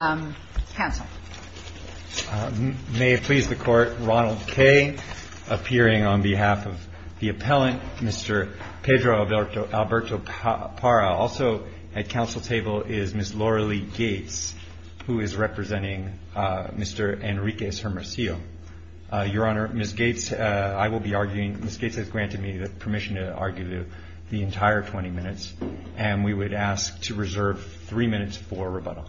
May it please the Court, Ronald K., appearing on behalf of the Appellant, Mr. Pedro Alberto Parra. Also at Council table is Ms. Loralee Gates, who is representing Mr. Enrique Zermurcillo. Your Honor, Ms. Gates has granted me the permission to argue the entire 20 minutes, and we would ask to reserve three minutes for rebuttal.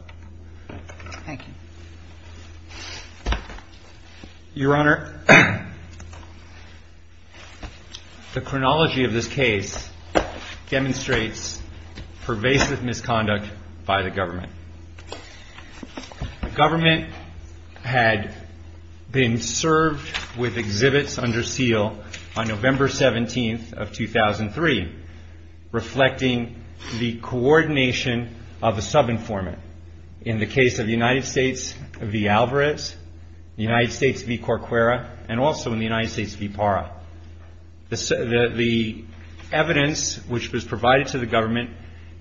Your Honor, the chronology of this case demonstrates pervasive misconduct by the government. The government had been served with exhibits under 17th of 2003, reflecting the coordination of a sub-informant in the case of the United States v. Alvarez, the United States v. Corquera, and also in the United States v. PARRA. The evidence which was provided to the government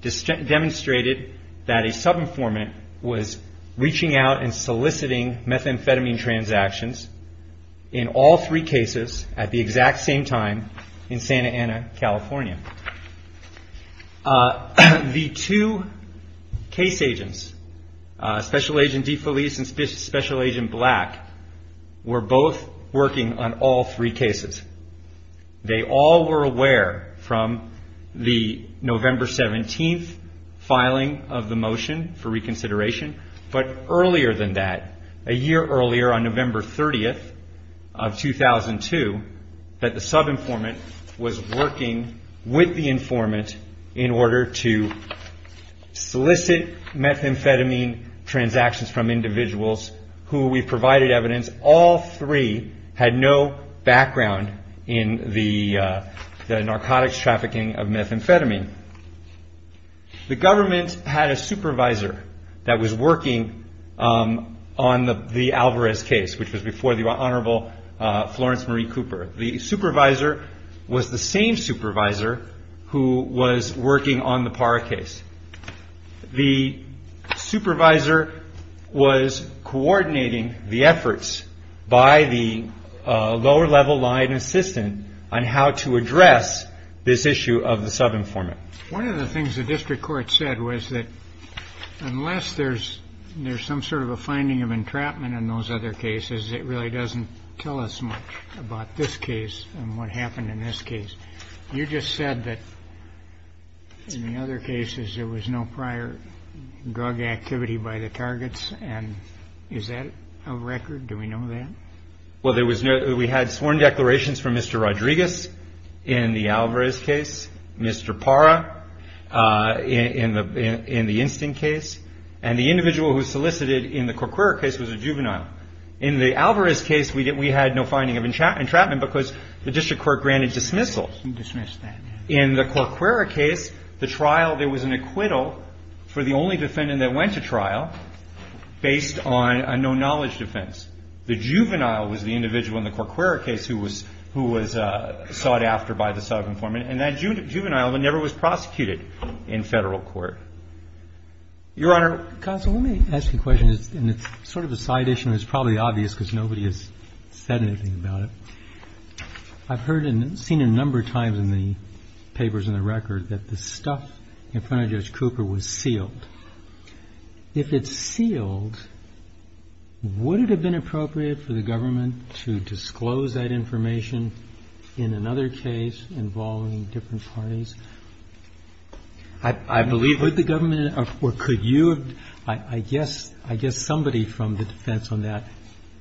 demonstrated that a sub-informant was reaching out and soliciting methamphetamine transactions in all three cases at the exact same time in Santa Ana, California. The two case agents, Special Agent DeFelice and Special Agent Black, were both working on all three cases. They all were aware from the November 17th filing of the motion for reconsideration, but earlier than that, a year earlier on November 30th of 2002, that the sub-informant was working with the informant in order to solicit methamphetamine transactions from individuals who we provided evidence all three had no background in the had a supervisor that was working on the Alvarez case, which was before the Honorable Florence Marie Cooper. The supervisor was the same supervisor who was working on the PARRA case. The supervisor was coordinating the efforts by the lower-level line assistant on how to address this issue of the sub-informant. One of the things the district court said was that unless there's some sort of a finding of entrapment in those other cases, it really doesn't tell us much about this case and what happened in this case. You just said that in the other cases there was no prior drug activity by the targets. Is that a record? Do we know that? Well, we had sworn declarations from Mr. Rodriguez in the Alvarez case, Mr. PARRA in the Instant case, and the individual who solicited in the Corquerra case was a juvenile. In the Alvarez case, we had no finding of entrapment because the district court granted dismissal. In the Corquerra case, the trial, there was an acquittal for the only defendant that went to trial based on a no-knowledge defense. The juvenile was the individual in the Corquerra case who was sought after by the sub-informant, and that juvenile never was prosecuted in Federal court. Your Honor. Counsel, let me ask you a question, and it's sort of a side issue and it's probably obvious because nobody has said anything about it. I've heard and seen a number of times in the papers and the record that the stuff in front of Judge Cooper was sealed. If it's sealed, would it have been appropriate for the government to disclose that information in another case involving different parties? I believe, would the government or could you? I guess somebody from the defense on that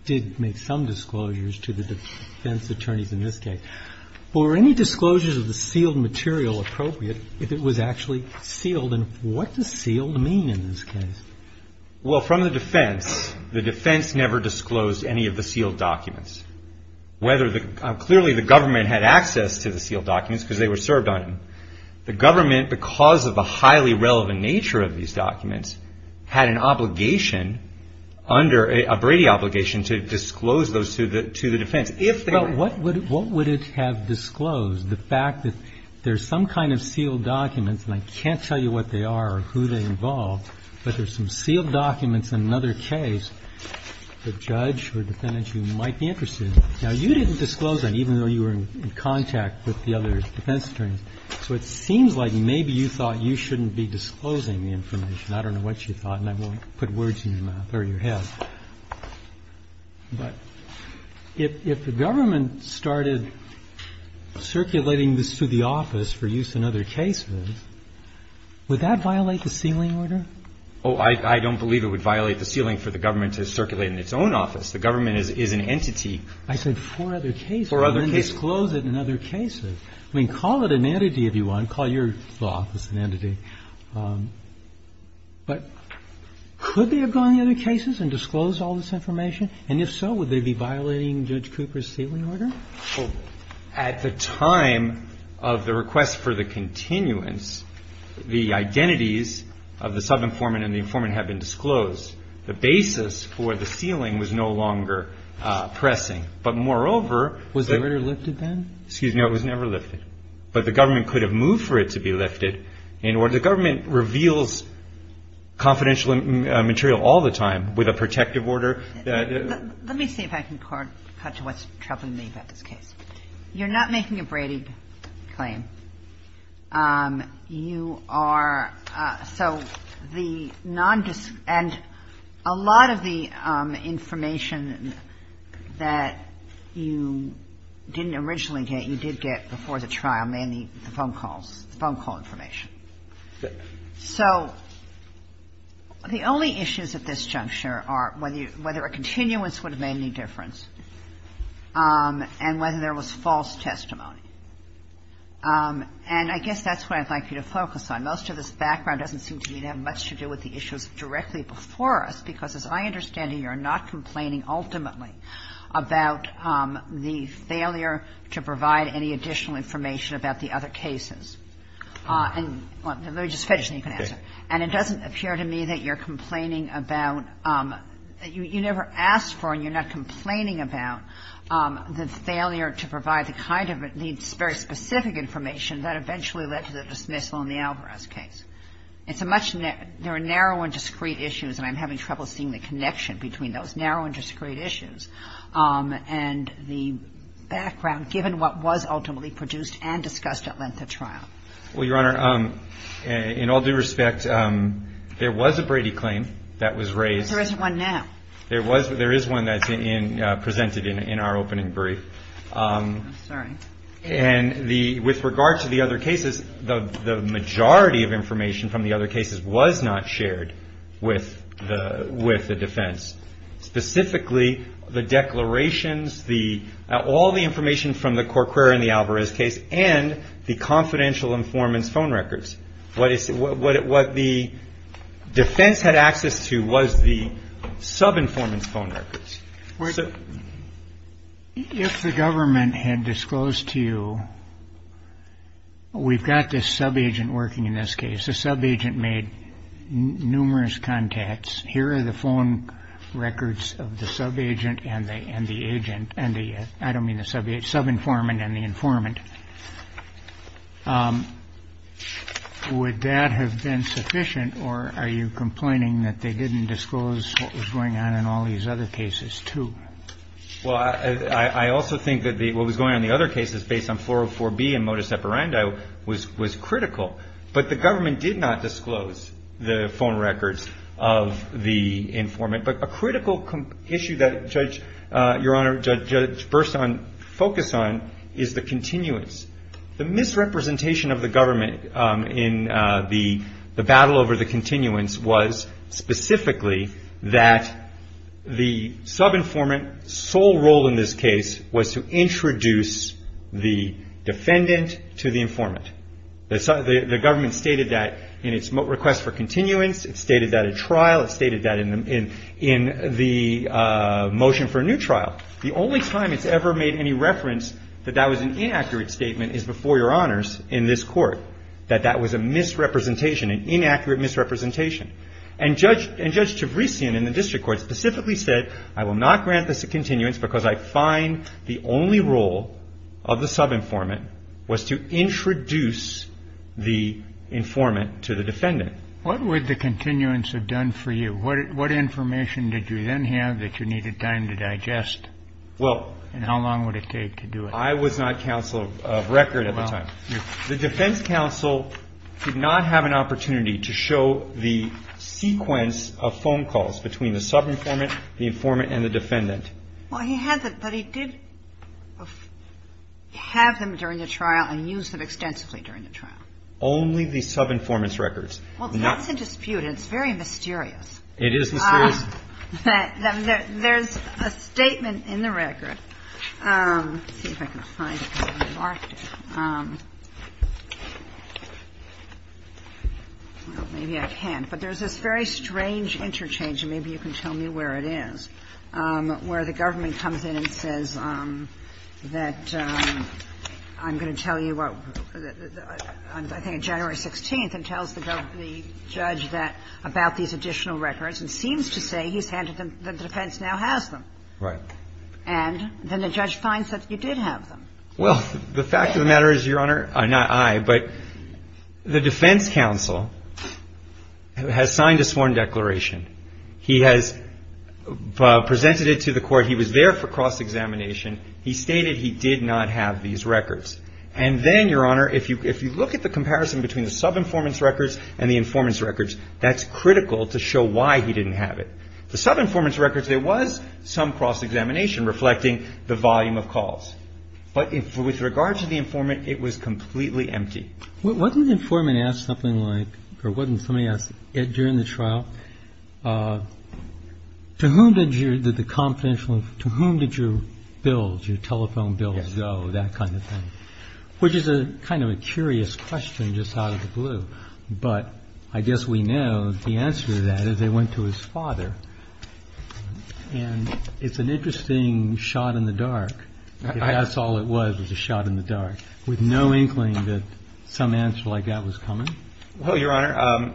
did make some disclosures to the defense attorneys in this case. Were any disclosures of the sealed material appropriate if it was actually sealed? And what does sealed mean in this case? Well, from the defense, the defense never disclosed any of the sealed documents. Whether the, clearly the government had access to the sealed documents because they were served on them. The government, because of the highly relevant nature of these documents, never disclosed any of the sealed documents to the defense. If they were. Well, what would it have disclosed? The fact that there's some kind of sealed documents and I can't tell you what they are or who they involve, but there's some sealed documents in another case, the judge or defendant you might be interested in. Now, you didn't disclose that, even though you were in contact with the other defense attorneys. So it seems like maybe you thought you shouldn't be disclosing the information. I don't know what you thought, and I won't put words in your mouth or your head. But if the government started circulating this to the office for use in other cases, would that violate the sealing order? Oh, I don't believe it would violate the sealing for the government to circulate in its own office. The government is an entity. I said four other cases. Four other cases. And then disclose it in other cases. I mean, call it an entity if you want. Call your law office an entity. But could they have gone in other cases and disclosed all this information? And if so, would they be violating Judge Cooper's sealing order? Well, at the time of the request for the continuance, the identities of the subinformant and the informant have been disclosed. The basis for the sealing was no longer pressing. But moreover, Was the order lifted then? Excuse me. It was never lifted. But the government could have moved for it to be lifted. And the government reveals confidential material all the time with a protective order. Let me see if I can cut to what's troubling me about this case. You're not making a Brady claim. You are so the non-disclosure and a lot of the information that you didn't originally get, you did get before the trial, mainly the phone calls, the phone call information. So the only issues at this juncture are whether a continuance would have made any difference and whether there was false testimony. And I guess that's what I'd like you to focus on. Most of this background doesn't seem to me to have much to do with the issues directly before us, because as I understand it, you're not complaining ultimately about the failure to provide any additional information about the other cases. And let me just finish and then you can answer. And it doesn't appear to me that you're complaining about you never asked for and you're not complaining about the failure to provide the kind of very specific information that eventually led to the dismissal in the Alvarez case. It's a much nearer narrow and discreet issues, and I'm having trouble seeing the and the background given what was ultimately produced and discussed at length at trial. Well, Your Honor, in all due respect, there was a Brady claim that was raised. There isn't one now. There is one that's presented in our opening brief. I'm sorry. And with regard to the other cases, the majority of information from the other cases was not shared with the defense. Specifically, the declarations, all the information from the Corcoran, the Alvarez case, and the confidential informants' phone records. What the defense had access to was the sub-informants' phone records. If the government had disclosed to you, we've got this sub-agent working in this case. The sub-agent made numerous contacts. Here are the phone records of the sub-agent and the agent, and the, I don't mean the sub-agent, sub-informant and the informant. Would that have been sufficient, or are you complaining that they didn't disclose what was going on in all these other cases, too? Well, I also think that what was going on in the other cases, based on 404B and modus operandi, was critical. But the government did not disclose the phone records of the informant. But a critical issue that Judge, Your Honor, Judge Burson focused on, is the continuance. The misrepresentation of the government in the battle over the continuance was specifically that the sub-informant's sole role in this case was to introduce the defendant to the informant. The government stated that in its request for continuance, it stated that in trial, it stated that in the motion for a new trial. The only time it's ever made any reference that that was an inaccurate statement is before Your Honors in this court, that that was a misrepresentation, an inaccurate misrepresentation. And Judge Tavrisian in the district court specifically said, I will not grant this a continuance because I find the only role of the sub-informant was to introduce the informant to the defendant. What would the continuance have done for you? What information did you then have that you needed time to digest? Well. And how long would it take to do it? I was not counsel of record at the time. The defense counsel did not have an opportunity to show the sequence of phone calls between the sub-informant, the informant, and the defendant. Well, he hasn't, but he did have them during the trial and use them extensively during the trial. Only the sub-informant's records. Well, that's a dispute. It's very mysterious. It is mysterious. There's a statement in the record. Let's see if I can find it. I've already marked it. Well, maybe I can't. But there's this very strange interchange, and maybe you can tell me where it is, where the government comes in and says that I'm going to tell you on, I think, January 16th, and tells the judge about these additional records and seems to say he's handed them, that the defense now has them. Right. And then the judge finds that you did have them. Well, the fact of the matter is, Your Honor, not I, but the defense counsel has signed a sworn declaration. He has presented it to the court. He was there for cross-examination. He stated he did not have these records. And then, Your Honor, if you look at the comparison between the sub-informant's records and the informant's records, that's critical to show why he didn't have it. The sub-informant's records, there was some cross-examination reflecting the volume of calls. But with regard to the informant, it was completely empty. Wasn't the informant asked something like, or wasn't somebody asked it during the trial, to whom did the confidential, to whom did your bills, your telephone bills go, that kind of thing? Which is a kind of a curious question just out of the blue. But I guess we know the answer to that is they went to his father. And it's an interesting shot in the dark. That's all it was, was a shot in the dark. With no inkling that some answer like that was coming. Well, Your Honor,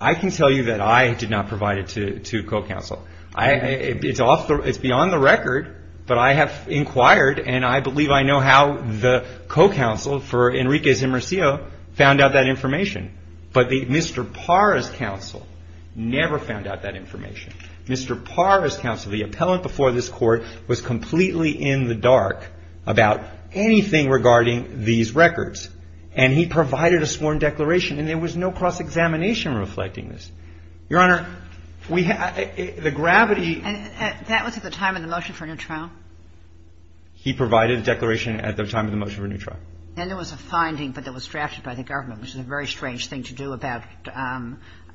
I can tell you that I did not provide it to co-counsel. It's beyond the record. But I have inquired, and I believe I know how the co-counsel for Enrique Zimmercio found out that information. But Mr. Parra's counsel never found out that information. Mr. Parra's counsel, the appellant before this court, was completely in the dark about anything regarding these records. And he provided a sworn declaration. And there was no cross-examination reflecting this. Your Honor, we had, the gravity. And that was at the time of the motion for a new trial? He provided a declaration at the time of the motion for a new trial. Then there was a finding, but that was drafted by the government, which is a very strange thing to do about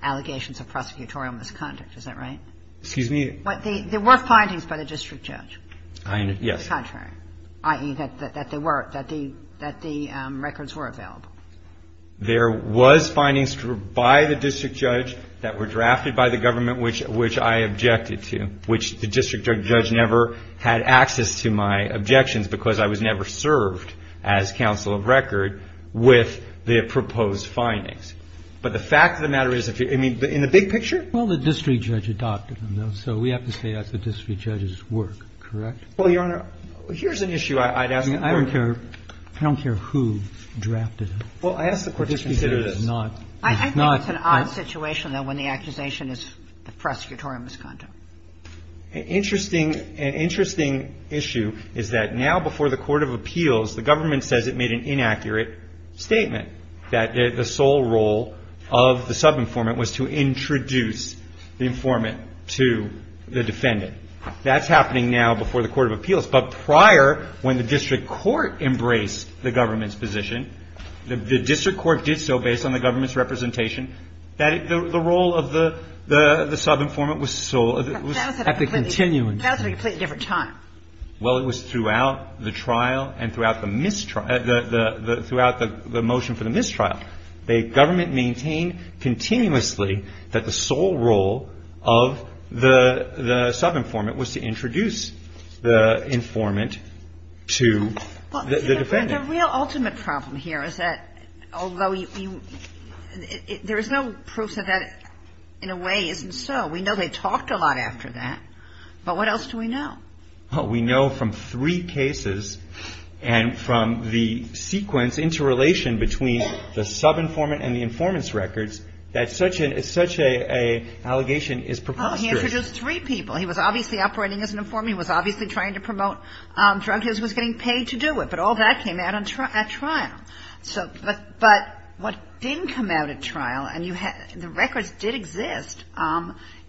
allegations of prosecutorial misconduct. Is that right? Excuse me? But there were findings by the district judge. Yes. The contrary. I.e., that the records were available. There was findings by the district judge that were drafted by the government, which I objected to, which the district judge never had access to my objections because I was never served as counsel of record with the proposed findings. But the fact of the matter is, in the big picture? Well, the district judge adopted them, though. So we have to say that the district judge's work, correct? Well, Your Honor, here's an issue I'd ask. I mean, I don't care who drafted them. Well, I ask the Court to consider this. I think it's an odd situation, though, when the accusation is the prosecutorial misconduct. Interesting. An interesting issue is that now before the court of appeals, the government says it made an inaccurate statement that the sole role of the subinformant was to introduce the informant to the defendant. That's happening now before the court of appeals. But prior, when the district court embraced the government's position, the district court did so based on the government's representation, that the role of the subinformant was sole. At the continuance. That was at a completely different time. Well, it was throughout the trial and throughout the mistrial – throughout the motion for the mistrial. The government maintained continuously that the sole role of the subinformant was to introduce the informant to the defendant. The real ultimate problem here is that although you – there is no proof that that in a way isn't so. We know they talked a lot after that. But what else do we know? We know from three cases and from the sequence, interrelation between the subinformant and the informant's records, that such an – such an allegation is preposterous. He introduced three people. He was obviously operating as an informant. He was obviously trying to promote drug use. He was getting paid to do it. But all that came out at trial. So – but what didn't come out at trial, and you had – the records did exist,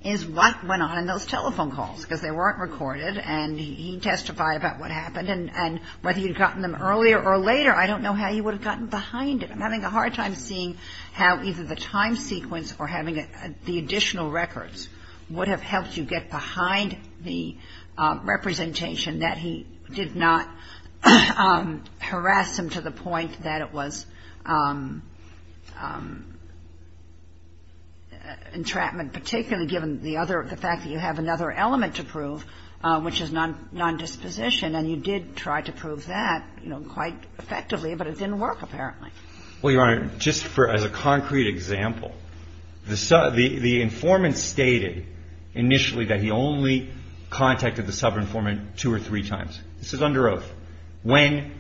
is what went on in those telephone calls. Because they weren't recorded, and he testified about what happened. And whether he had gotten them earlier or later, I don't know how he would have gotten behind it. I'm having a hard time seeing how either the time sequence or having the additional records would have helped you get behind the representation that he did not harass him to the point that it was entrapment, particularly given the other – the fact that you have another element to prove, which is non-disposition. And you did try to prove that, you know, quite effectively. But it didn't work, apparently. Well, Your Honor, just for – as a concrete example, the informant stated initially that he only contacted the sub-informant two or three times. This is under oath. When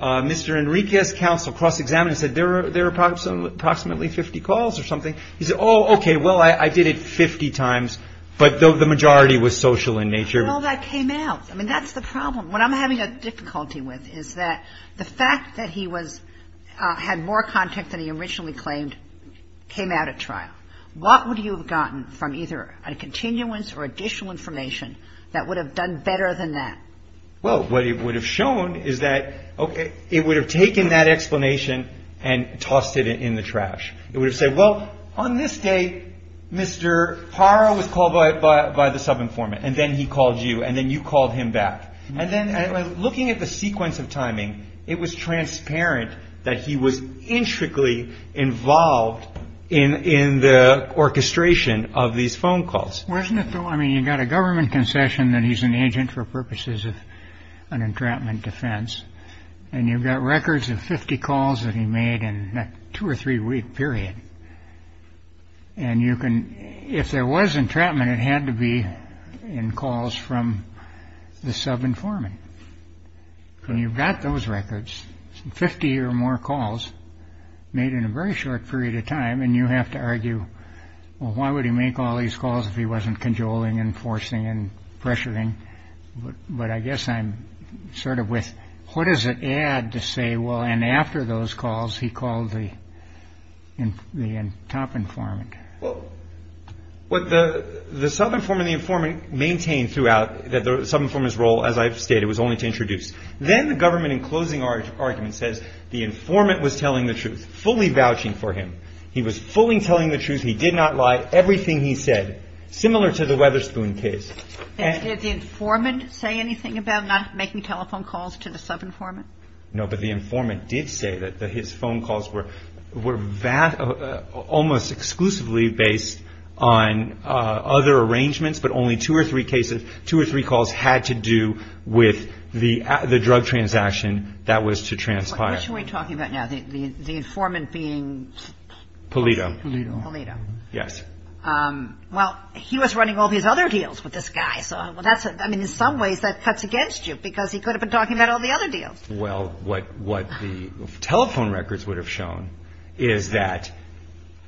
Mr. Enriquez's counsel cross-examined and said, there are approximately 50 calls or something, he said, oh, okay, well, I did it 50 times. But the majority was social in nature. Well, that came out. I mean, that's the problem. What I'm having a difficulty with is that the fact that he was – had more contact than he originally claimed came out at trial. What would you have gotten from either a continuance or additional information that would have done better than that? Well, what it would have shown is that, okay, it would have taken that explanation and tossed it in the trash. It would have said, well, on this day, Mr. Parra was called by the sub-informant, and then he called you, and then you called him back. And then looking at the sequence of timing, it was transparent that he was involved in the orchestration of these phone calls. Wasn't it, though – I mean, you've got a government concession that he's an agent for purposes of an entrapment defense, and you've got records of 50 calls that he made in that two- or three-week period. And you can – if there was entrapment, it had to be in calls from the sub-informant. When you've got those records, 50 or more calls made in a very short period of time, and you have to argue, well, why would he make all these calls if he wasn't cajoling and forcing and pressuring? But I guess I'm sort of with, what does it add to say, well, and after those calls, he called the top informant? Well, what the sub-informant and the informant maintained throughout the sub-informant's role, as I've stated, was only to introduce. Then the government, in closing argument, says the informant was telling the truth, fully vouching for him. He was fully telling the truth. He did not lie. Everything he said, similar to the Weatherspoon case. And did the informant say anything about not making telephone calls to the sub-informant? No, but the informant did say that his phone calls were almost exclusively based on other arrangements, but only two or three calls had to do with the drug transaction that was to transpire. Which are we talking about now, the informant being? Polito. Polito. Polito. Yes. Well, he was running all these other deals with this guy, so in some ways that cuts against you, because he could have been talking about all the other deals. Well, what the telephone records would have shown is that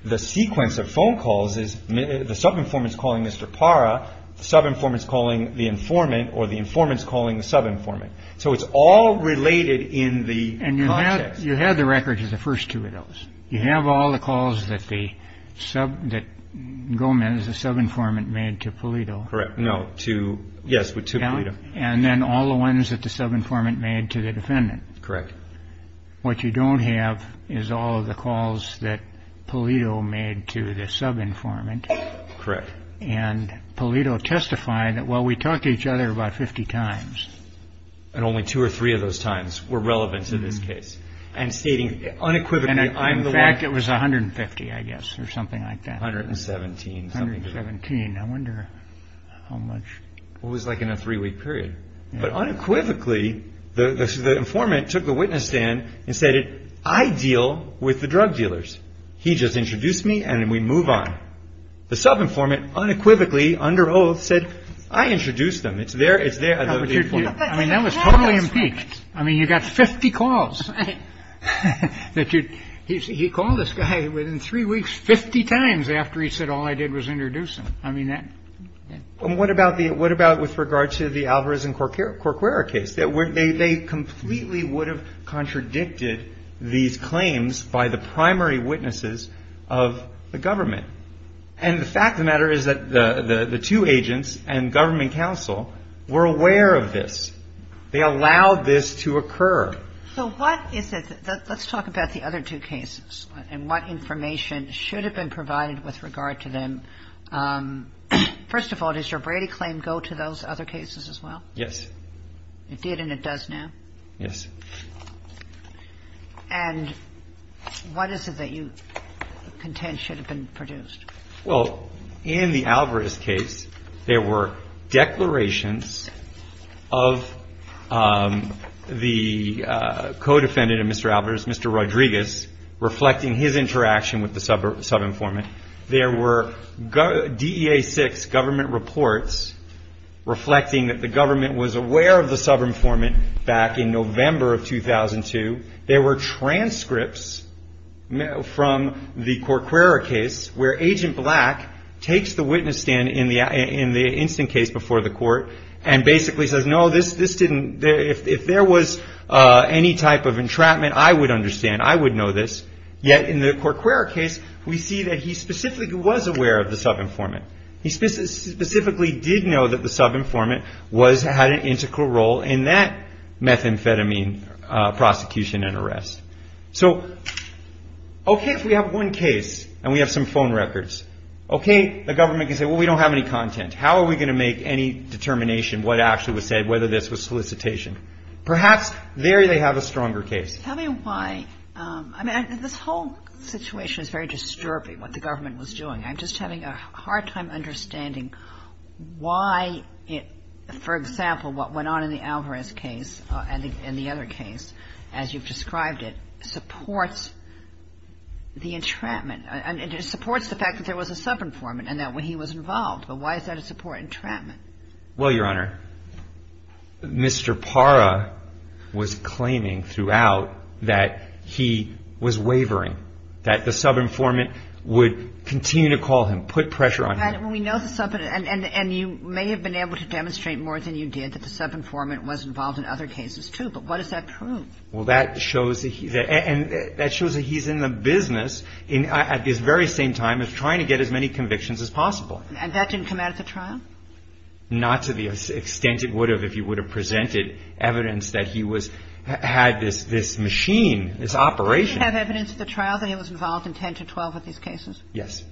the sequence of phone calls is the sub-informant's calling Mr. Parra, the sub-informant's calling the informant, or the informant's calling the sub-informant. So it's all related in the context. And you have the records of the first two of those. You have all the calls that Gomez, the sub-informant, made to Polito. Correct. Yes, to Polito. And then all the ones that the sub-informant made to the defendant. Correct. What you don't have is all of the calls that Polito made to the sub-informant. Correct. And Polito testified that, well, we talked to each other about 50 times. And only two or three of those times were relevant to this case. And stating unequivocally, I'm the one. In fact, it was 150, I guess, or something like that. 117. 117. I wonder how much. It was like in a three-week period. But unequivocally, the informant took the witness stand and said, I deal with the drug dealers. He just introduced me, and then we move on. The sub-informant unequivocally, under oath, said, I introduced them. It's there. I mean, that was totally impeached. I mean, you got 50 calls. He called this guy within three weeks 50 times after he said all I did was introduce him. And what about with regard to the Alvarez and Corquera case? They completely would have contradicted these claims by the primary witnesses of the government. And the fact of the matter is that the two agents and government counsel were aware of this. They allowed this to occur. So what is it? Let's talk about the other two cases and what information should have been provided with regard to them. First of all, does your Brady claim go to those other cases as well? Yes. It did and it does now? Yes. And what is it that you contend should have been produced? Well, in the Alvarez case, there were declarations of the co-defendant of Mr. Alvarez, Mr. Rodriguez, reflecting his interaction with the sub-informant. There were DEA-6 government reports reflecting that the government was aware of the sub-informant back in November of 2002. There were transcripts from the Corquera case where Agent Black takes the witness stand in the instant case before the court and basically says, no, if there was any type of entrapment, I would understand. I would know this. Yet in the Corquera case, we see that he specifically was aware of the sub-informant. He specifically did know that the sub-informant had an integral role in that methamphetamine prosecution and arrest. So, okay, if we have one case and we have some phone records, okay, the government can say, well, we don't have any content. How are we going to make any determination what actually was said, whether this was solicitation? Perhaps there they have a stronger case. Tell me why. I mean, this whole situation is very disturbing, what the government was doing. I'm just having a hard time understanding why it, for example, what went on in the Alvarez case and the other case, as you've described it, supports the entrapment. And it supports the fact that there was a sub-informant and that he was involved. But why is that a support entrapment? Well, Your Honor, Mr. Parra was claiming throughout that he was wavering, that the sub-informant would continue to call him, put pressure on him. And we know the sub-informant, and you may have been able to demonstrate more than you did that the sub-informant was involved in other cases, too. But what does that prove? Well, that shows that he's in the business at this very same time of trying to get as many convictions as possible. And that didn't come out at the trial? Not to the extent it would have if he would have presented evidence that he was, had this machine, this operation. Did he have evidence at the trial that he was involved in 10 to 12 of these cases? Yes.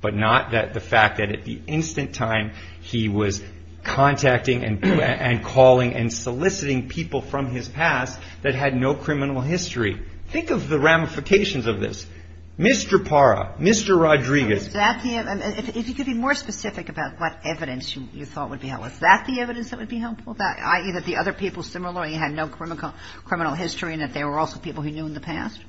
But not the fact that at the instant time he was contacting and calling and soliciting people from his past that had no criminal history. Think of the ramifications of this. Mr. Parra, Mr. Rodriguez. Is that the evidence? If you could be more specific about what evidence you thought would be helpful, is that the evidence that would be helpful, i.e., that the other people similarly had no criminal history and that they were also people he knew in the past?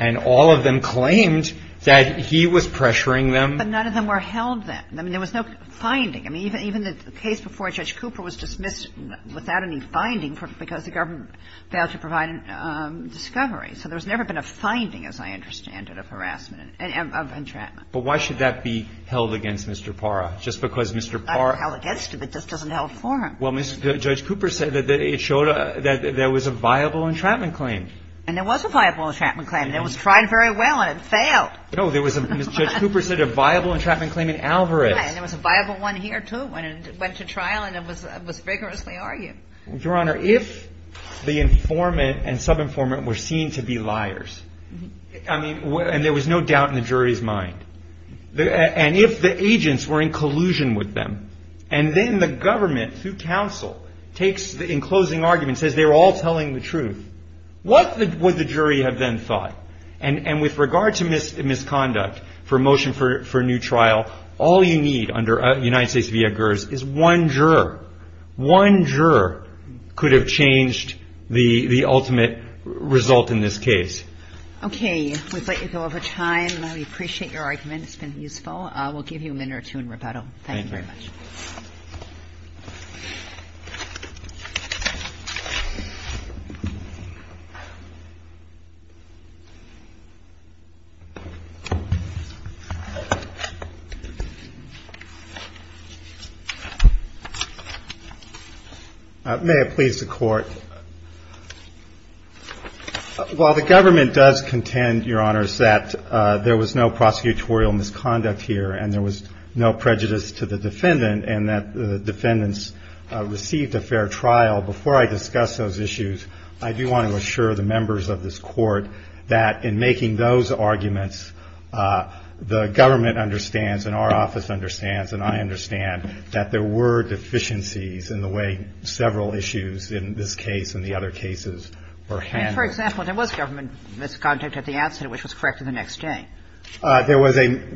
And all of them claimed that he was pressuring them. But none of them were held then. I mean, there was no finding. I mean, even the case before Judge Cooper was dismissed without any finding because the government failed to provide a discovery. So there's never been a finding, as I understand it, of harassment, of entrapment. But why should that be held against Mr. Parra? Just because Mr. Parra — Not held against him. It just doesn't help for him. Well, Judge Cooper said that it showed that there was a viable entrapment claim. And there was a viable entrapment claim. And it was tried very well, and it failed. No. There was a — Judge Cooper said a viable entrapment claim in Alvarez. Right. And there was a viable one here, too. And it went to trial, and it was vigorously argued. Your Honor, if the informant and subinformant were seen to be liars, I mean — and there was no doubt in the jury's mind. And if the agents were in collusion with them, and then the government, through counsel, takes — in closing arguments, says they were all telling the truth, what would the jury have then thought? And with regard to misconduct for a motion for a new trial, all you need under United States v. Eggers is one juror. One juror could have changed the ultimate result in this case. Okay. We've let you go over time. We appreciate your argument. It's been useful. We'll give you a minute or two in rebuttal. Thank you very much. Thank you. May it please the Court. Well, the government does contend, Your Honors, that there was no prosecutorial misconduct here, and there was no prejudice to the defendant, and that the defendants received a fair trial. Before I discuss those issues, I do want to assure the members of this Court that in making those arguments, the government understands, and our office understands, and I understand that there were deficiencies in the way several issues in this case and the other cases were handled. For example, there was government misconduct at the outset, which was corrected the next day. There was a —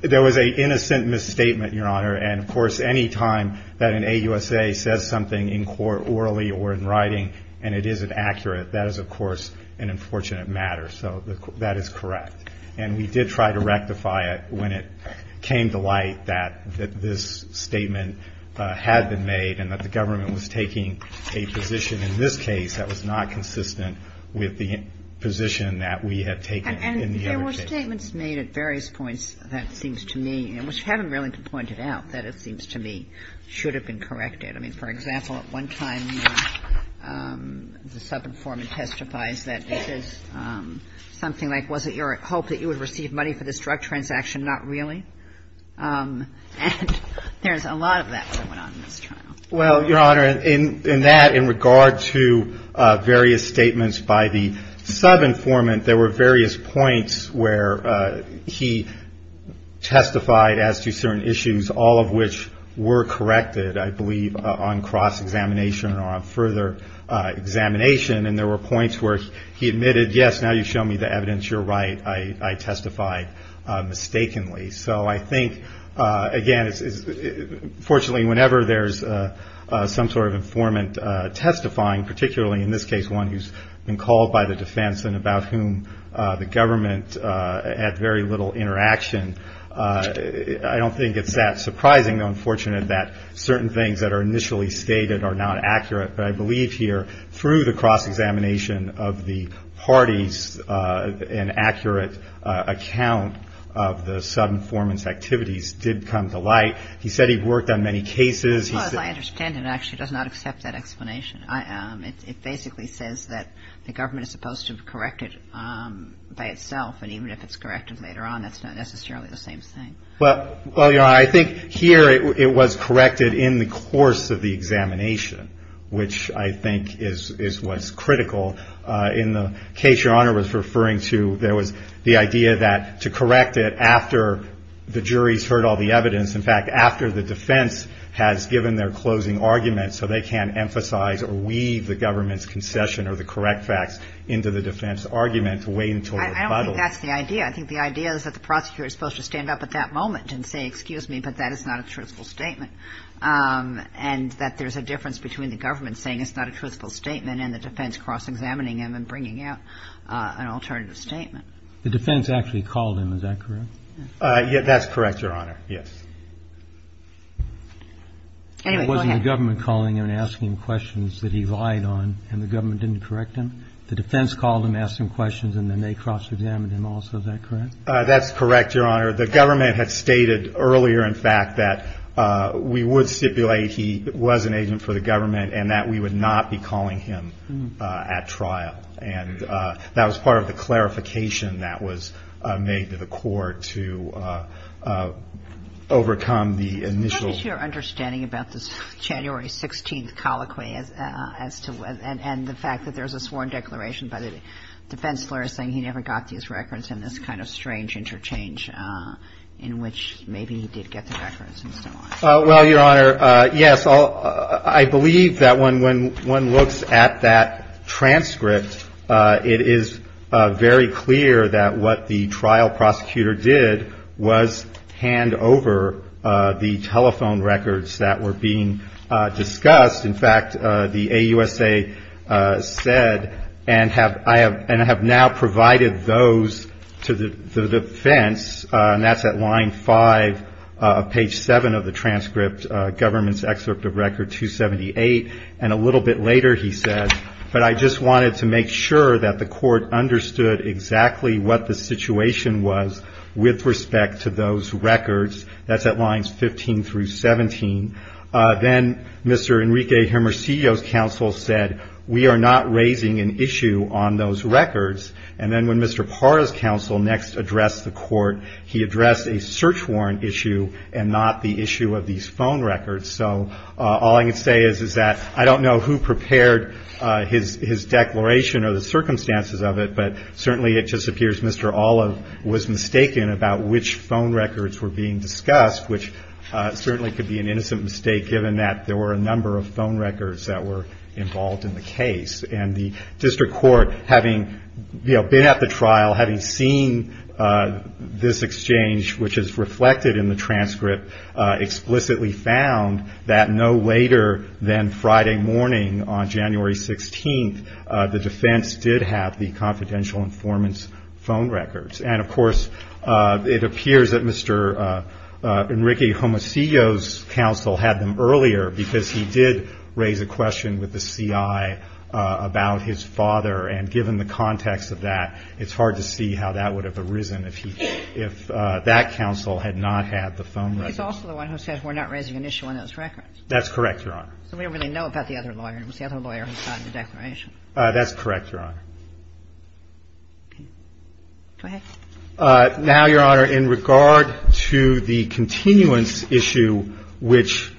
there was an innocent misstatement, Your Honor. And, of course, any time that an AUSA says something in court orally or in writing and it isn't accurate, that is, of course, an unfortunate matter. So that is correct. And we did try to rectify it when it came to light that this statement had been made and that the government was taking a position in this case that was not consistent with the position that we had taken in the other cases. And there were statements made at various points that seems to me, which you haven't really pointed out, that it seems to me should have been corrected. I mean, for example, at one time the subinformant testifies that this is something like was it your hope that you would receive money for this drug transaction? Not really. And there's a lot of that going on in this trial. Well, Your Honor, in that, in regard to various statements by the subinformant, there were various points where he testified as to certain issues, all of which were corrected, I believe, on cross-examination or on further examination. And there were points where he admitted, yes, now you've shown me the evidence. You're right. I testified mistakenly. So I think, again, fortunately, whenever there's some sort of informant testifying, particularly in this case one who's been called by the defense and about whom the government had very little interaction, I don't think it's that surprising, though unfortunate, that certain things that are initially stated are not accurate. But I believe here through the cross-examination of the parties, an accurate account of the subinformant's activities did come to light. He said he worked on many cases. Well, as I understand it, it actually does not accept that explanation. It basically says that the government is supposed to correct it by itself, and even if it's corrected later on, that's not necessarily the same thing. Well, Your Honor, I think here it was corrected in the course of the examination, which I think is what's critical. In the case Your Honor was referring to, there was the idea that to correct it after the jury's heard all the evidence, in fact after the defense has given their closing argument, so they can't emphasize or weave the government's concession or the correct facts into the defense argument to wait until the rebuttal. I don't think that's the idea. I think the idea is that the prosecutor is supposed to stand up at that moment and say, excuse me, but that is not a truthful statement, and that there's a difference between the government saying it's not a truthful statement and the defense cross-examining him and bringing out an alternative statement. The defense actually called him, is that correct? That's correct, Your Honor, yes. Anyway, go ahead. It wasn't the government calling him and asking him questions that he lied on, and the government didn't correct him? The defense called him, asked him questions, and then they cross-examined him also, is that correct? That's correct, Your Honor. The government had stated earlier, in fact, that we would stipulate he was an agent for the government and that we would not be calling him at trial, and that was part of the clarification that was made to the court to overcome the initial. What is your understanding about this January 16th colloquy and the fact that there's a sworn declaration by the defense lawyer saying he never got these records and this kind of strange interchange in which maybe he did get the records and so on? Well, Your Honor, yes. I believe that when one looks at that transcript, it is very clear that what the trial prosecutor did was hand over the telephone records that were being discussed. In fact, the AUSA said, and have now provided those to the defense, and that's at line 5 of page 7 of the transcript, government's excerpt of record 278, and a little bit later he said, but I just wanted to make sure that the court understood exactly what the situation was with respect to those records. That's at lines 15 through 17. Then Mr. Enrique Hermosillo's counsel said, we are not raising an issue on those records. And then when Mr. Parra's counsel next addressed the court, he addressed a search warrant issue and not the issue of these phone records. So all I can say is, is that I don't know who prepared his declaration or the circumstances of it, but certainly it just appears Mr. Olive was mistaken about which phone records were being discussed, which certainly could be an innocent mistake, given that there were a number of phone records that were involved in the case. And the district court, having been at the trial, having seen this exchange, which is reflected in the transcript, explicitly found that no later than Friday morning on January 16th, the defense did have the confidential informant's phone records. And, of course, it appears that Mr. Enrique Hermosillo's counsel had them earlier because he did raise a question with the C.I. about his father. And given the context of that, it's hard to see how that would have arisen if he, if that counsel had not had the phone records. He's also the one who said we're not raising an issue on those records. That's correct, Your Honor. So we don't really know about the other lawyer. It was the other lawyer who signed the declaration. That's correct, Your Honor. Okay. Go ahead. Now, Your Honor, in regard to the continuance issue which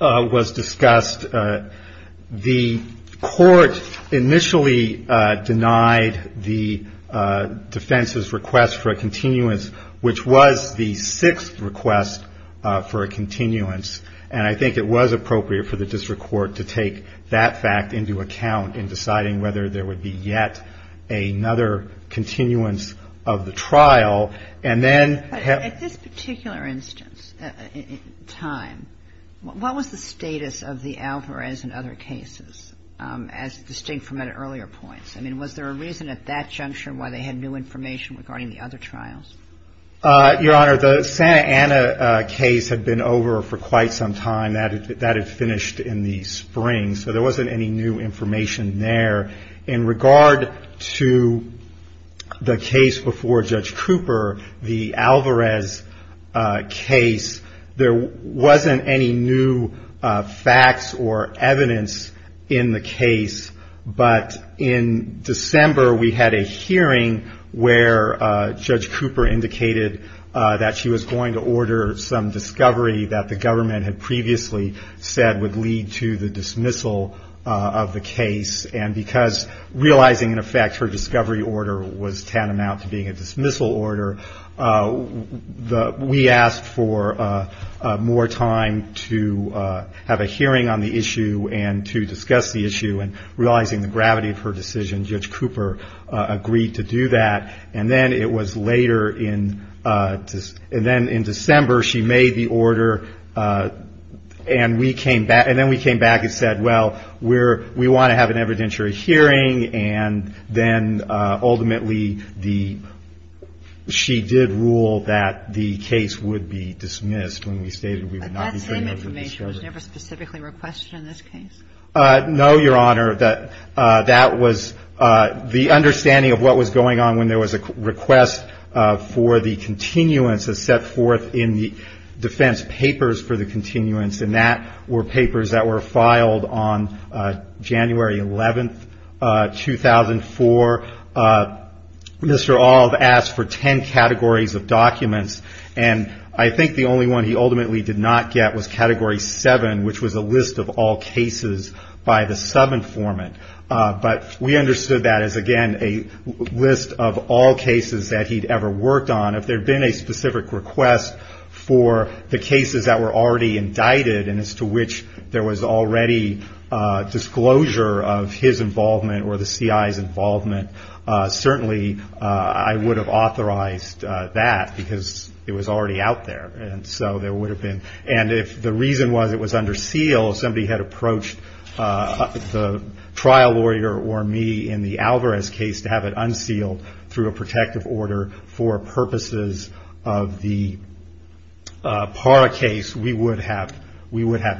was discussed, the court initially denied the defense's request for a continuance, which was the sixth request for a continuance. And I think it was appropriate for the district court to take that fact into account in deciding whether there would be yet another continuance of the trial. But at this particular instance, time, what was the status of the Alvarez and other cases as distinct from the earlier points? I mean, was there a reason at that juncture why they had new information regarding the other trials? Your Honor, the Santa Ana case had been over for quite some time. That had finished in the spring. So there wasn't any new information there. In regard to the case before Judge Cooper, the Alvarez case, there wasn't any new facts or evidence in the case. But in December we had a hearing where Judge Cooper indicated that she was going to order some discovery that the government had previously said would lead to the dismissal of the case. And because realizing, in effect, her discovery order was tantamount to being a dismissal order, we asked for more time to have a hearing on the issue and to discuss the issue. And realizing the gravity of her decision, Judge Cooper agreed to do that. And then it was later in December she made the order and we came back. And then we came back and said, well, we want to have an evidentiary hearing. And then ultimately the ‑‑ she did rule that the case would be dismissed when we stated we would not be putting up the discovery. But that same information was never specifically requested in this case? No, Your Honor. That was the understanding of what was going on when there was a request for the continuance as set forth in the defense papers for the continuance. And that were papers that were filed on January 11, 2004. Mr. Alv asked for ten categories of documents. And I think the only one he ultimately did not get was Category 7, which was a list of all cases by the sub‑informant. But we understood that as, again, a list of all cases that he'd ever worked on. If there had been a specific request for the cases that were already indicted and as to which there was already disclosure of his involvement or the CI's involvement, certainly I would have authorized that because it was already out there. And so there would have been ‑‑ and if the reason was it was under seal, somebody had approached the trial lawyer or me in the Alvarez case to have it unsealed through a protective order for purposes of the Parra case, we would have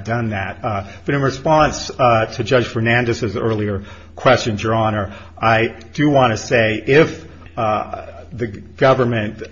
done that. But in response to Judge Fernandez's earlier questions, Your Honor, I do want to say if the government,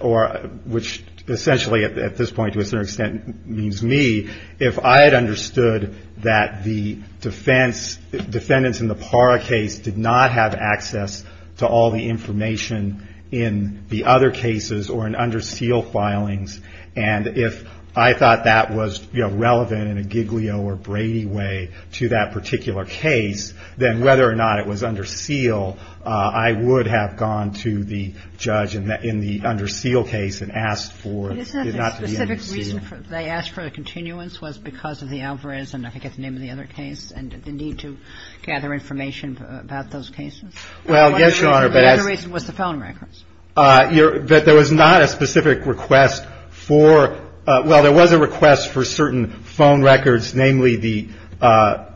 which essentially at this point to a certain extent means me, if I had understood that the defendants in the Parra case did not have access to all the information in the other cases or in under seal filings, and if I thought that was, you know, relevant in a Giglio or Brady way to that particular case, then whether or not it was under seal, I would have gone to the judge in the under seal case and asked for it not to be unsealed. But isn't that the specific reason they asked for the continuance was because of the Alvarez and I forget the name of the other case and the need to gather information about those cases? Well, yes, Your Honor, but as ‑‑ The other reason was the felon records. That there was not a specific request for, well, there was a request for certain phone records, namely the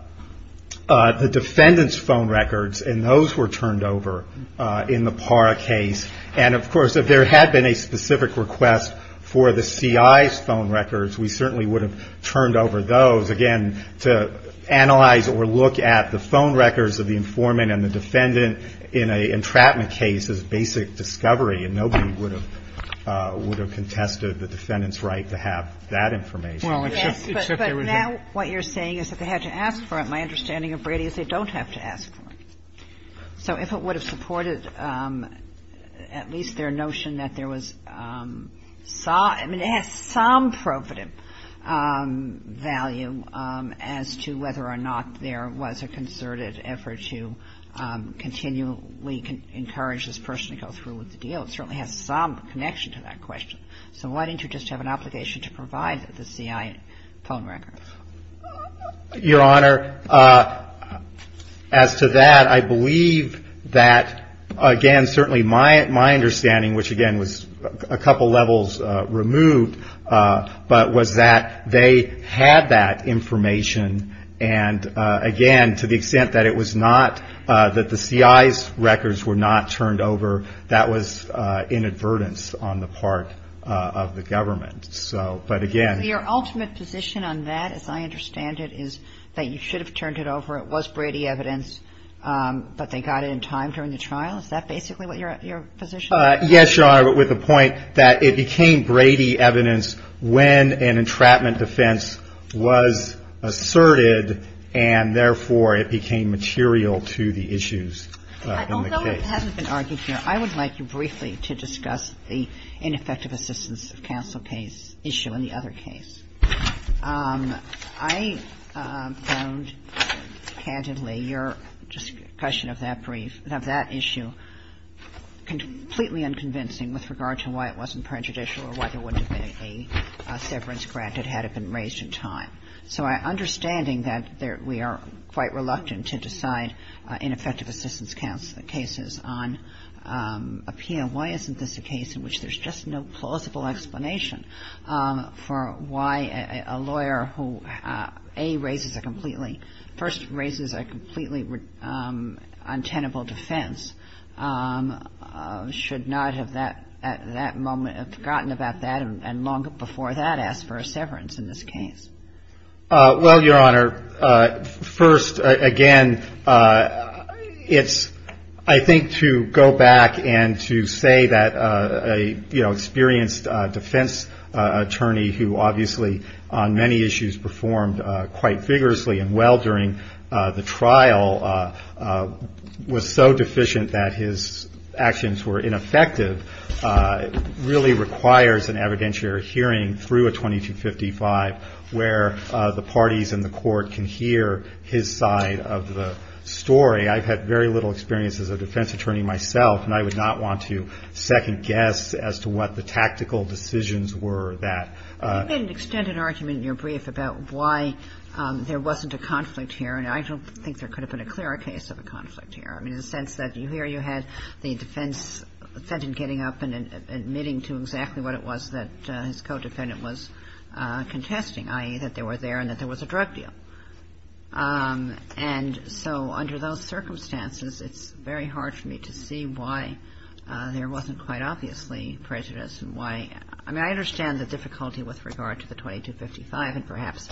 defendant's phone records, and those were turned over in the Parra case. And, of course, if there had been a specific request for the CI's phone records, we certainly would have turned over those, again, to analyze or look at the phone records of the informant and the defendant in an entrapment case as basic discovery, and nobody would have contested the defendant's right to have that information. Yes, but now what you're saying is that they had to ask for it. My understanding of Brady is they don't have to ask for it. So if it would have supported at least their notion that there was ‑‑ I mean, it has some probative value as to whether or not there was a concerted effort to continually encourage this person to go through with the deal. It certainly has some connection to that question. So why didn't you just have an obligation to provide the CI phone records? Your Honor, as to that, I believe that, again, certainly my understanding, which, again, was a couple levels removed, but was that they had that information. And, again, to the extent that it was not ‑‑ that the CI's records were not turned over, that was inadvertence on the part of the government. So, but again ‑‑ Your ultimate position on that, as I understand it, is that you should have turned it over. It was Brady evidence, but they got it in time during the trial. Is that basically what your position is? Yes, Your Honor, with the point that it became Brady evidence when an entrapment defense was asserted, and, therefore, it became material to the issues in the case. Although it hasn't been argued here, I would like you briefly to discuss the ineffective assistance of counsel case issue in the other case. I found, candidly, your question of that brief, of that issue, completely unconvincing with regard to why it wasn't prejudicial or why there wouldn't have been a severance granted had it been raised in time. So my understanding that we are quite reluctant to decide ineffective assistance cases on appeal, why isn't this a case in which there's just no plausible explanation for why a lawyer who, A, raises a completely ‑‑ first raises a completely untenable defense, should not have at that moment forgotten about that and long before that asked for a severance in this case? Well, Your Honor, first, again, it's, I think, to go back and to say that a, you know, experienced defense attorney who, obviously, on many issues performed quite vigorously and well during the trial, was so deficient that his actions were ineffective, really requires an evidentiary hearing through a 2255 where the parties in the court can hear his side of the story. I've had very little experience as a defense attorney myself, and I would not want to second guess as to what the tactical decisions were that ‑‑ Well, you didn't extend an argument in your brief about why there wasn't a conflict here, and I don't think there could have been a clearer case of a conflict here. I mean, in the sense that here you had the defense defendant getting up and admitting to exactly what it was that his codependent was contesting, i.e., that they were there and that there was a drug deal. And so under those circumstances, it's very hard for me to see why there wasn't quite obviously prejudice and why ‑‑ I mean, I understand the difficulty with regard to the 2255, and perhaps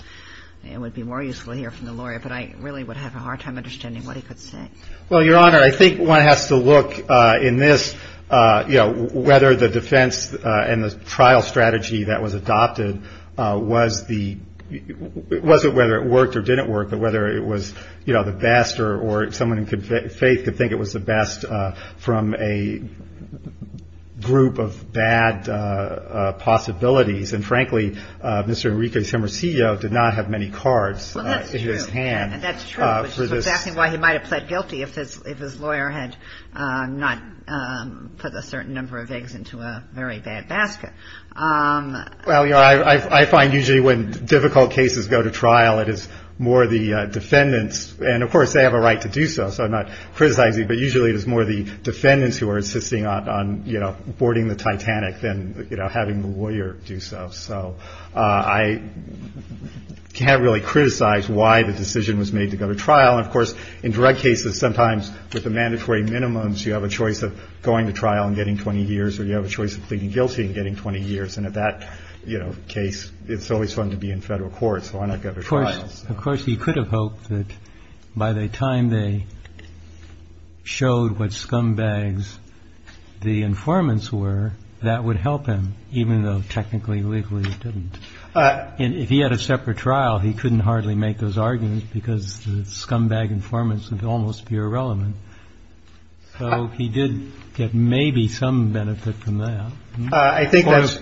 it would be more useful to hear from the lawyer, but I really would have a hard time understanding what he could say. Well, Your Honor, I think one has to look in this, you know, whether the defense and the trial strategy that was adopted was the ‑‑ it wasn't whether it worked or didn't work, but whether it was, you know, the best or someone in faith could think it was the best from a group of bad possibilities. And frankly, Mr. Enrique Temercio did not have many cards in his hand. Well, that's true. That's true, which is exactly why he might have pled guilty if his lawyer had not put a certain number of eggs into a very bad basket. Well, Your Honor, I find usually when difficult cases go to trial, it is more the defendants who are insisting on, you know, boarding the Titanic than having the lawyer do so. So I can't really criticize why the decision was made to go to trial. And, of course, in direct cases, sometimes with the mandatory minimums, you have a choice of going to trial and getting 20 years or you have a choice of pleading guilty and getting 20 years. And at that, you know, case, it's always fun to be in federal court, so why not go to trial? Of course, he could have hoped that by the time they showed what scumbags the informants were, that would help him, even though technically, legally, it didn't. If he had a separate trial, he couldn't hardly make those arguments because the scumbag informants would almost be irrelevant. So he did get maybe some benefit from that. I think that's... I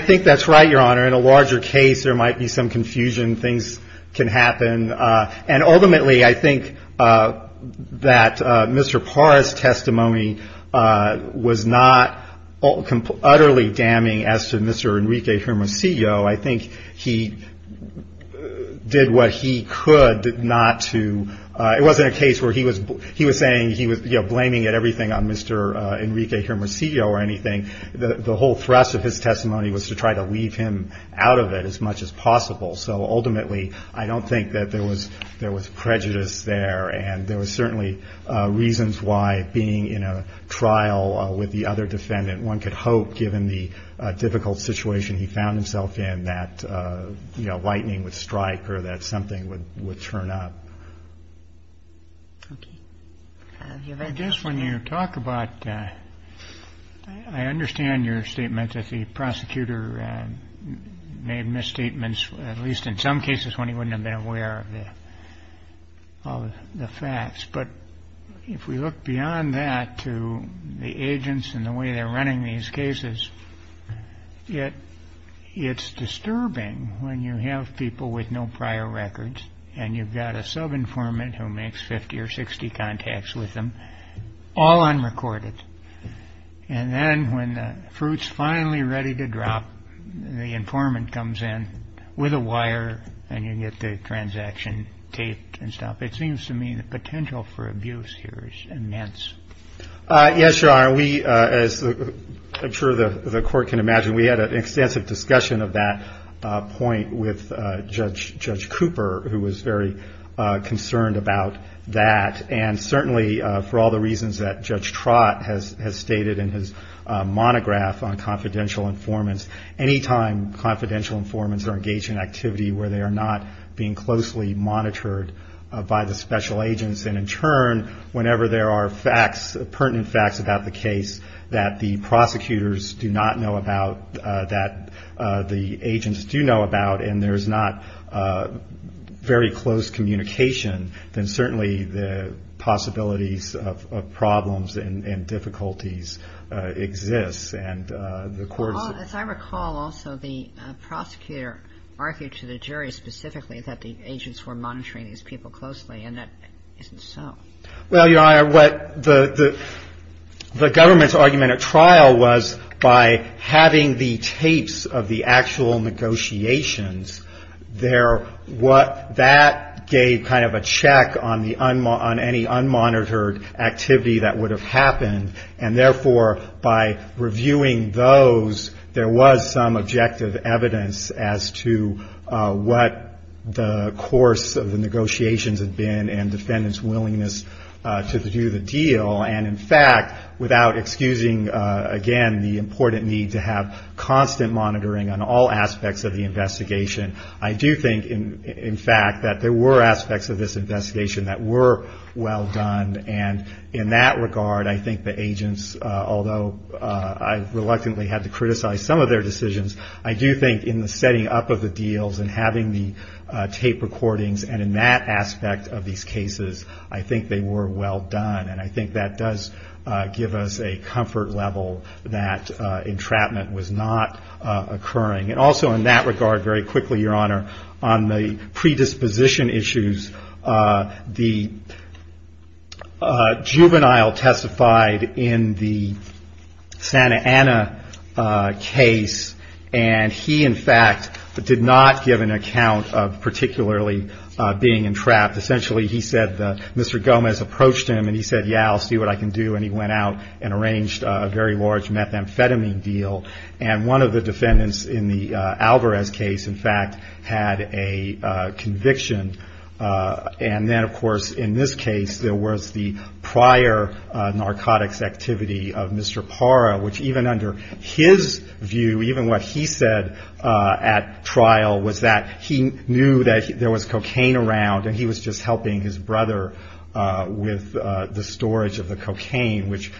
think that's right, Your Honor. In a larger case, there might be some confusion. Things can happen. And ultimately, I think that Mr. Parra's testimony was not utterly damning as to Mr. Enrique Hermosillo. I think he did what he could not to... It wasn't a case where he was saying he was, you know, blaming it everything on Mr. Enrique Hermosillo or anything. The whole thrust of his testimony was to try to leave him out of it as much as possible. So ultimately, I don't think that there was prejudice there. And there was certainly reasons why being in a trial with the other defendant, one could hope, given the difficult situation he found himself in, that, you know, lightning would strike or that something would turn up. Okay. I guess when you talk about... I understand your statement that the prosecutor made misstatements, at least in some cases when he wouldn't have been aware of the facts. But if we look beyond that to the agents and the way they're running these cases, yet it's disturbing when you have people with no prior records and you've got a sub-informant who makes 50 or 60 contacts with them, all unrecorded. And then when the fruit's finally ready to drop, the informant comes in with a wire and you get the transaction taped and stuff. It seems to me the potential for abuse here is immense. Yes, Your Honor. You know, we, as I'm sure the Court can imagine, we had an extensive discussion of that point with Judge Cooper, who was very concerned about that. And certainly for all the reasons that Judge Trott has stated in his monograph on confidential informants, anytime confidential informants are engaged in activity where they are not being closely monitored by the special agents, and in turn whenever there are facts, pertinent facts about the case, that the prosecutors do not know about, that the agents do know about, and there's not very close communication, then certainly the possibilities of problems and difficulties exist. As I recall also, the prosecutor argued to the jury specifically that the agents were monitoring these people closely, and that isn't so. Well, Your Honor, what the government's argument at trial was, by having the tapes of the actual negotiations, that gave kind of a check on any unmonitored activity that would have happened, and therefore by reviewing those, there was some objective evidence as to what the course of the negotiations had been, and defendants' willingness to do the deal. And in fact, without excusing, again, the important need to have constant monitoring on all aspects of the investigation, I do think, in fact, that there were aspects of this investigation that were well done. And in that regard, I think the agents, although I reluctantly had to criticize some of their decisions, I do think in the setting up of the deals and having the tape recordings, and in that aspect of these cases, I think they were well done, and I think that does give us a comfort level that entrapment was not occurring. And also in that regard, very quickly, Your Honor, on the predisposition issues, the juvenile testified in the Santa Ana case, and he, in fact, did not give an account of particularly being entrapped. Essentially, he said Mr. Gomez approached him, and he said, yeah, I'll see what I can do, and he went out and arranged a very large methamphetamine deal, and one of the defendants in the Alvarez case, in fact, had a conviction. And then, of course, in this case, there was the prior narcotics activity of Mr. Parra, which even under his view, even what he said at trial, was that he knew that there was cocaine around, and he was just helping his brother with the storage of the cocaine, which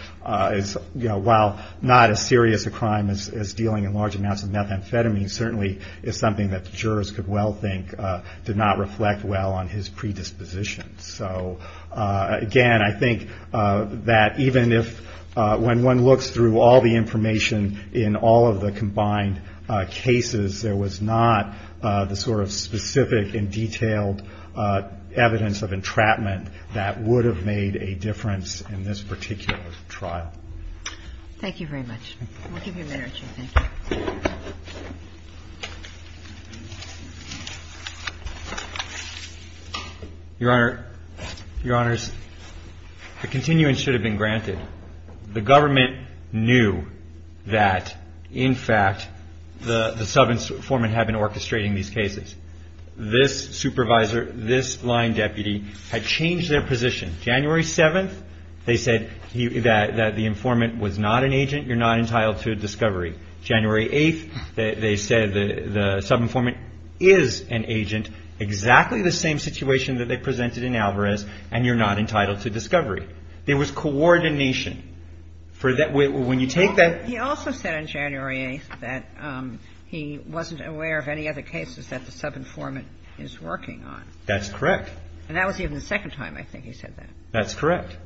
is, you know, while not as serious a crime as dealing in large amounts of methamphetamine, certainly is something that the jurors could well think did not reflect well on his predisposition. So, again, I think that even if when one looks through all the information in all of the combined cases, there was not the sort of specific and detailed evidence of entrapment that would have made a difference in this particular trial. Thank you very much. We'll give you a minute or two. Thank you. Your Honor, Your Honors, the continuance should have been granted. The government knew that, in fact, the subinformant had been orchestrating these cases. This supervisor, this line deputy, had changed their position. January 7th, they said that the informant was not an agent. You're not entitled to a discovery. January 8th, they said the subinformant is an agent, exactly the same situation that they presented in Alvarez, and you're not entitled to discovery. There was coordination. When you take that... That's correct. And that was even the second time, I think, he said that. That's correct.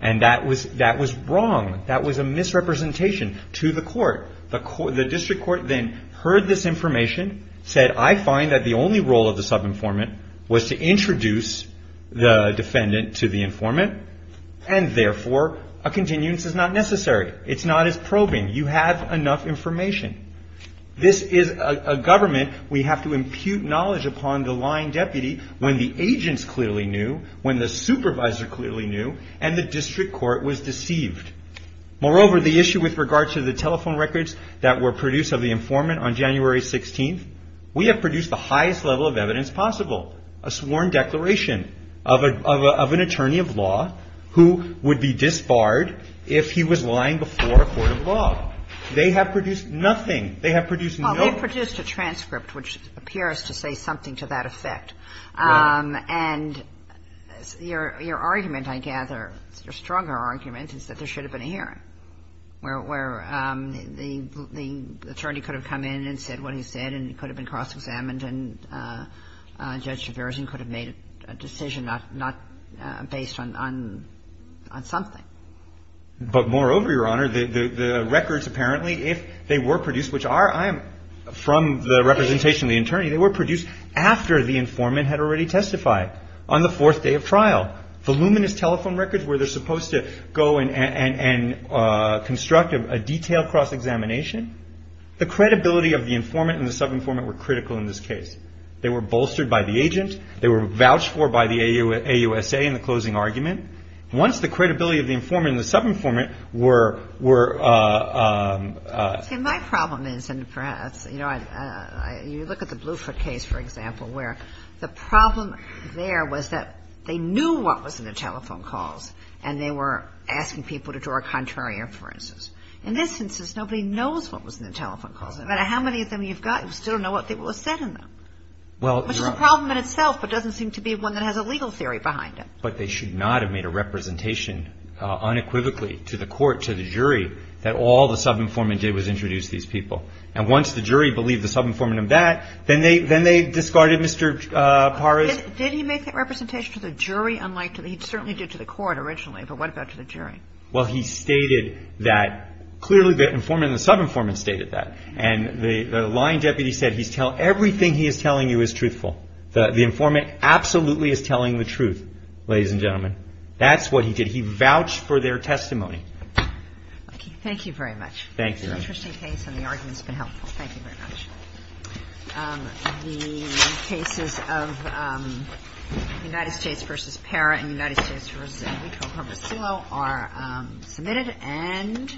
And that was wrong. That was a misrepresentation to the court. The district court then heard this information, said, I find that the only role of the subinformant was to introduce the defendant to the informant, and, therefore, a continuance is not necessary. It's not as probing. You have enough information. This is a government we have to impute knowledge upon the line deputy when the agents clearly knew, when the supervisor clearly knew, and the district court was deceived. Moreover, the issue with regard to the telephone records that were produced of the informant on January 16th, we have produced the highest level of evidence possible, a sworn declaration of an attorney of law They have produced nothing. They have produced no... Well, they produced a transcript which appears to say something to that effect. Right. And your argument, I gather, your stronger argument is that there should have been a hearing where the attorney could have come in and said what he said and it could have been cross-examined and Judge DeVeres could have made a decision not based on something. But, moreover, Your Honor, the records apparently, if they were produced, which are from the representation of the attorney, they were produced after the informant had already testified on the fourth day of trial. Voluminous telephone records where they're supposed to go and construct a detailed cross-examination. The credibility of the informant and the sub-informant were critical in this case. They were bolstered by the agent. They were vouched for by the AUSA in the closing argument. Once the credibility of the informant and the sub-informant were... See, my problem is, and perhaps, you know, you look at the Bluford case, for example, where the problem there was that they knew what was in the telephone calls and they were asking people to draw a contrary inference. In this instance, nobody knows what was in the telephone calls. No matter how many of them you've got, you still don't know what was said in them. Well, Your Honor... Which is a problem in itself but doesn't seem to be one that has a legal theory behind it. But they should not have made a representation unequivocally to the court, to the jury, that all the sub-informant did was introduce these people. And once the jury believed the sub-informant of that, then they discarded Mr. Paras. Did he make that representation to the jury? He certainly did to the court originally, but what about to the jury? Well, he stated that... Clearly, the informant and the sub-informant stated that. And the line deputy said, everything he is telling you is truthful. The informant absolutely is telling the truth. Ladies and gentlemen, that's what he did. He vouched for their testimony. Thank you very much. Thank you, Your Honor. It's an interesting case and the argument has been helpful. Thank you very much. The cases of United States v. Parra and United States v. Herbosillo are submitted and...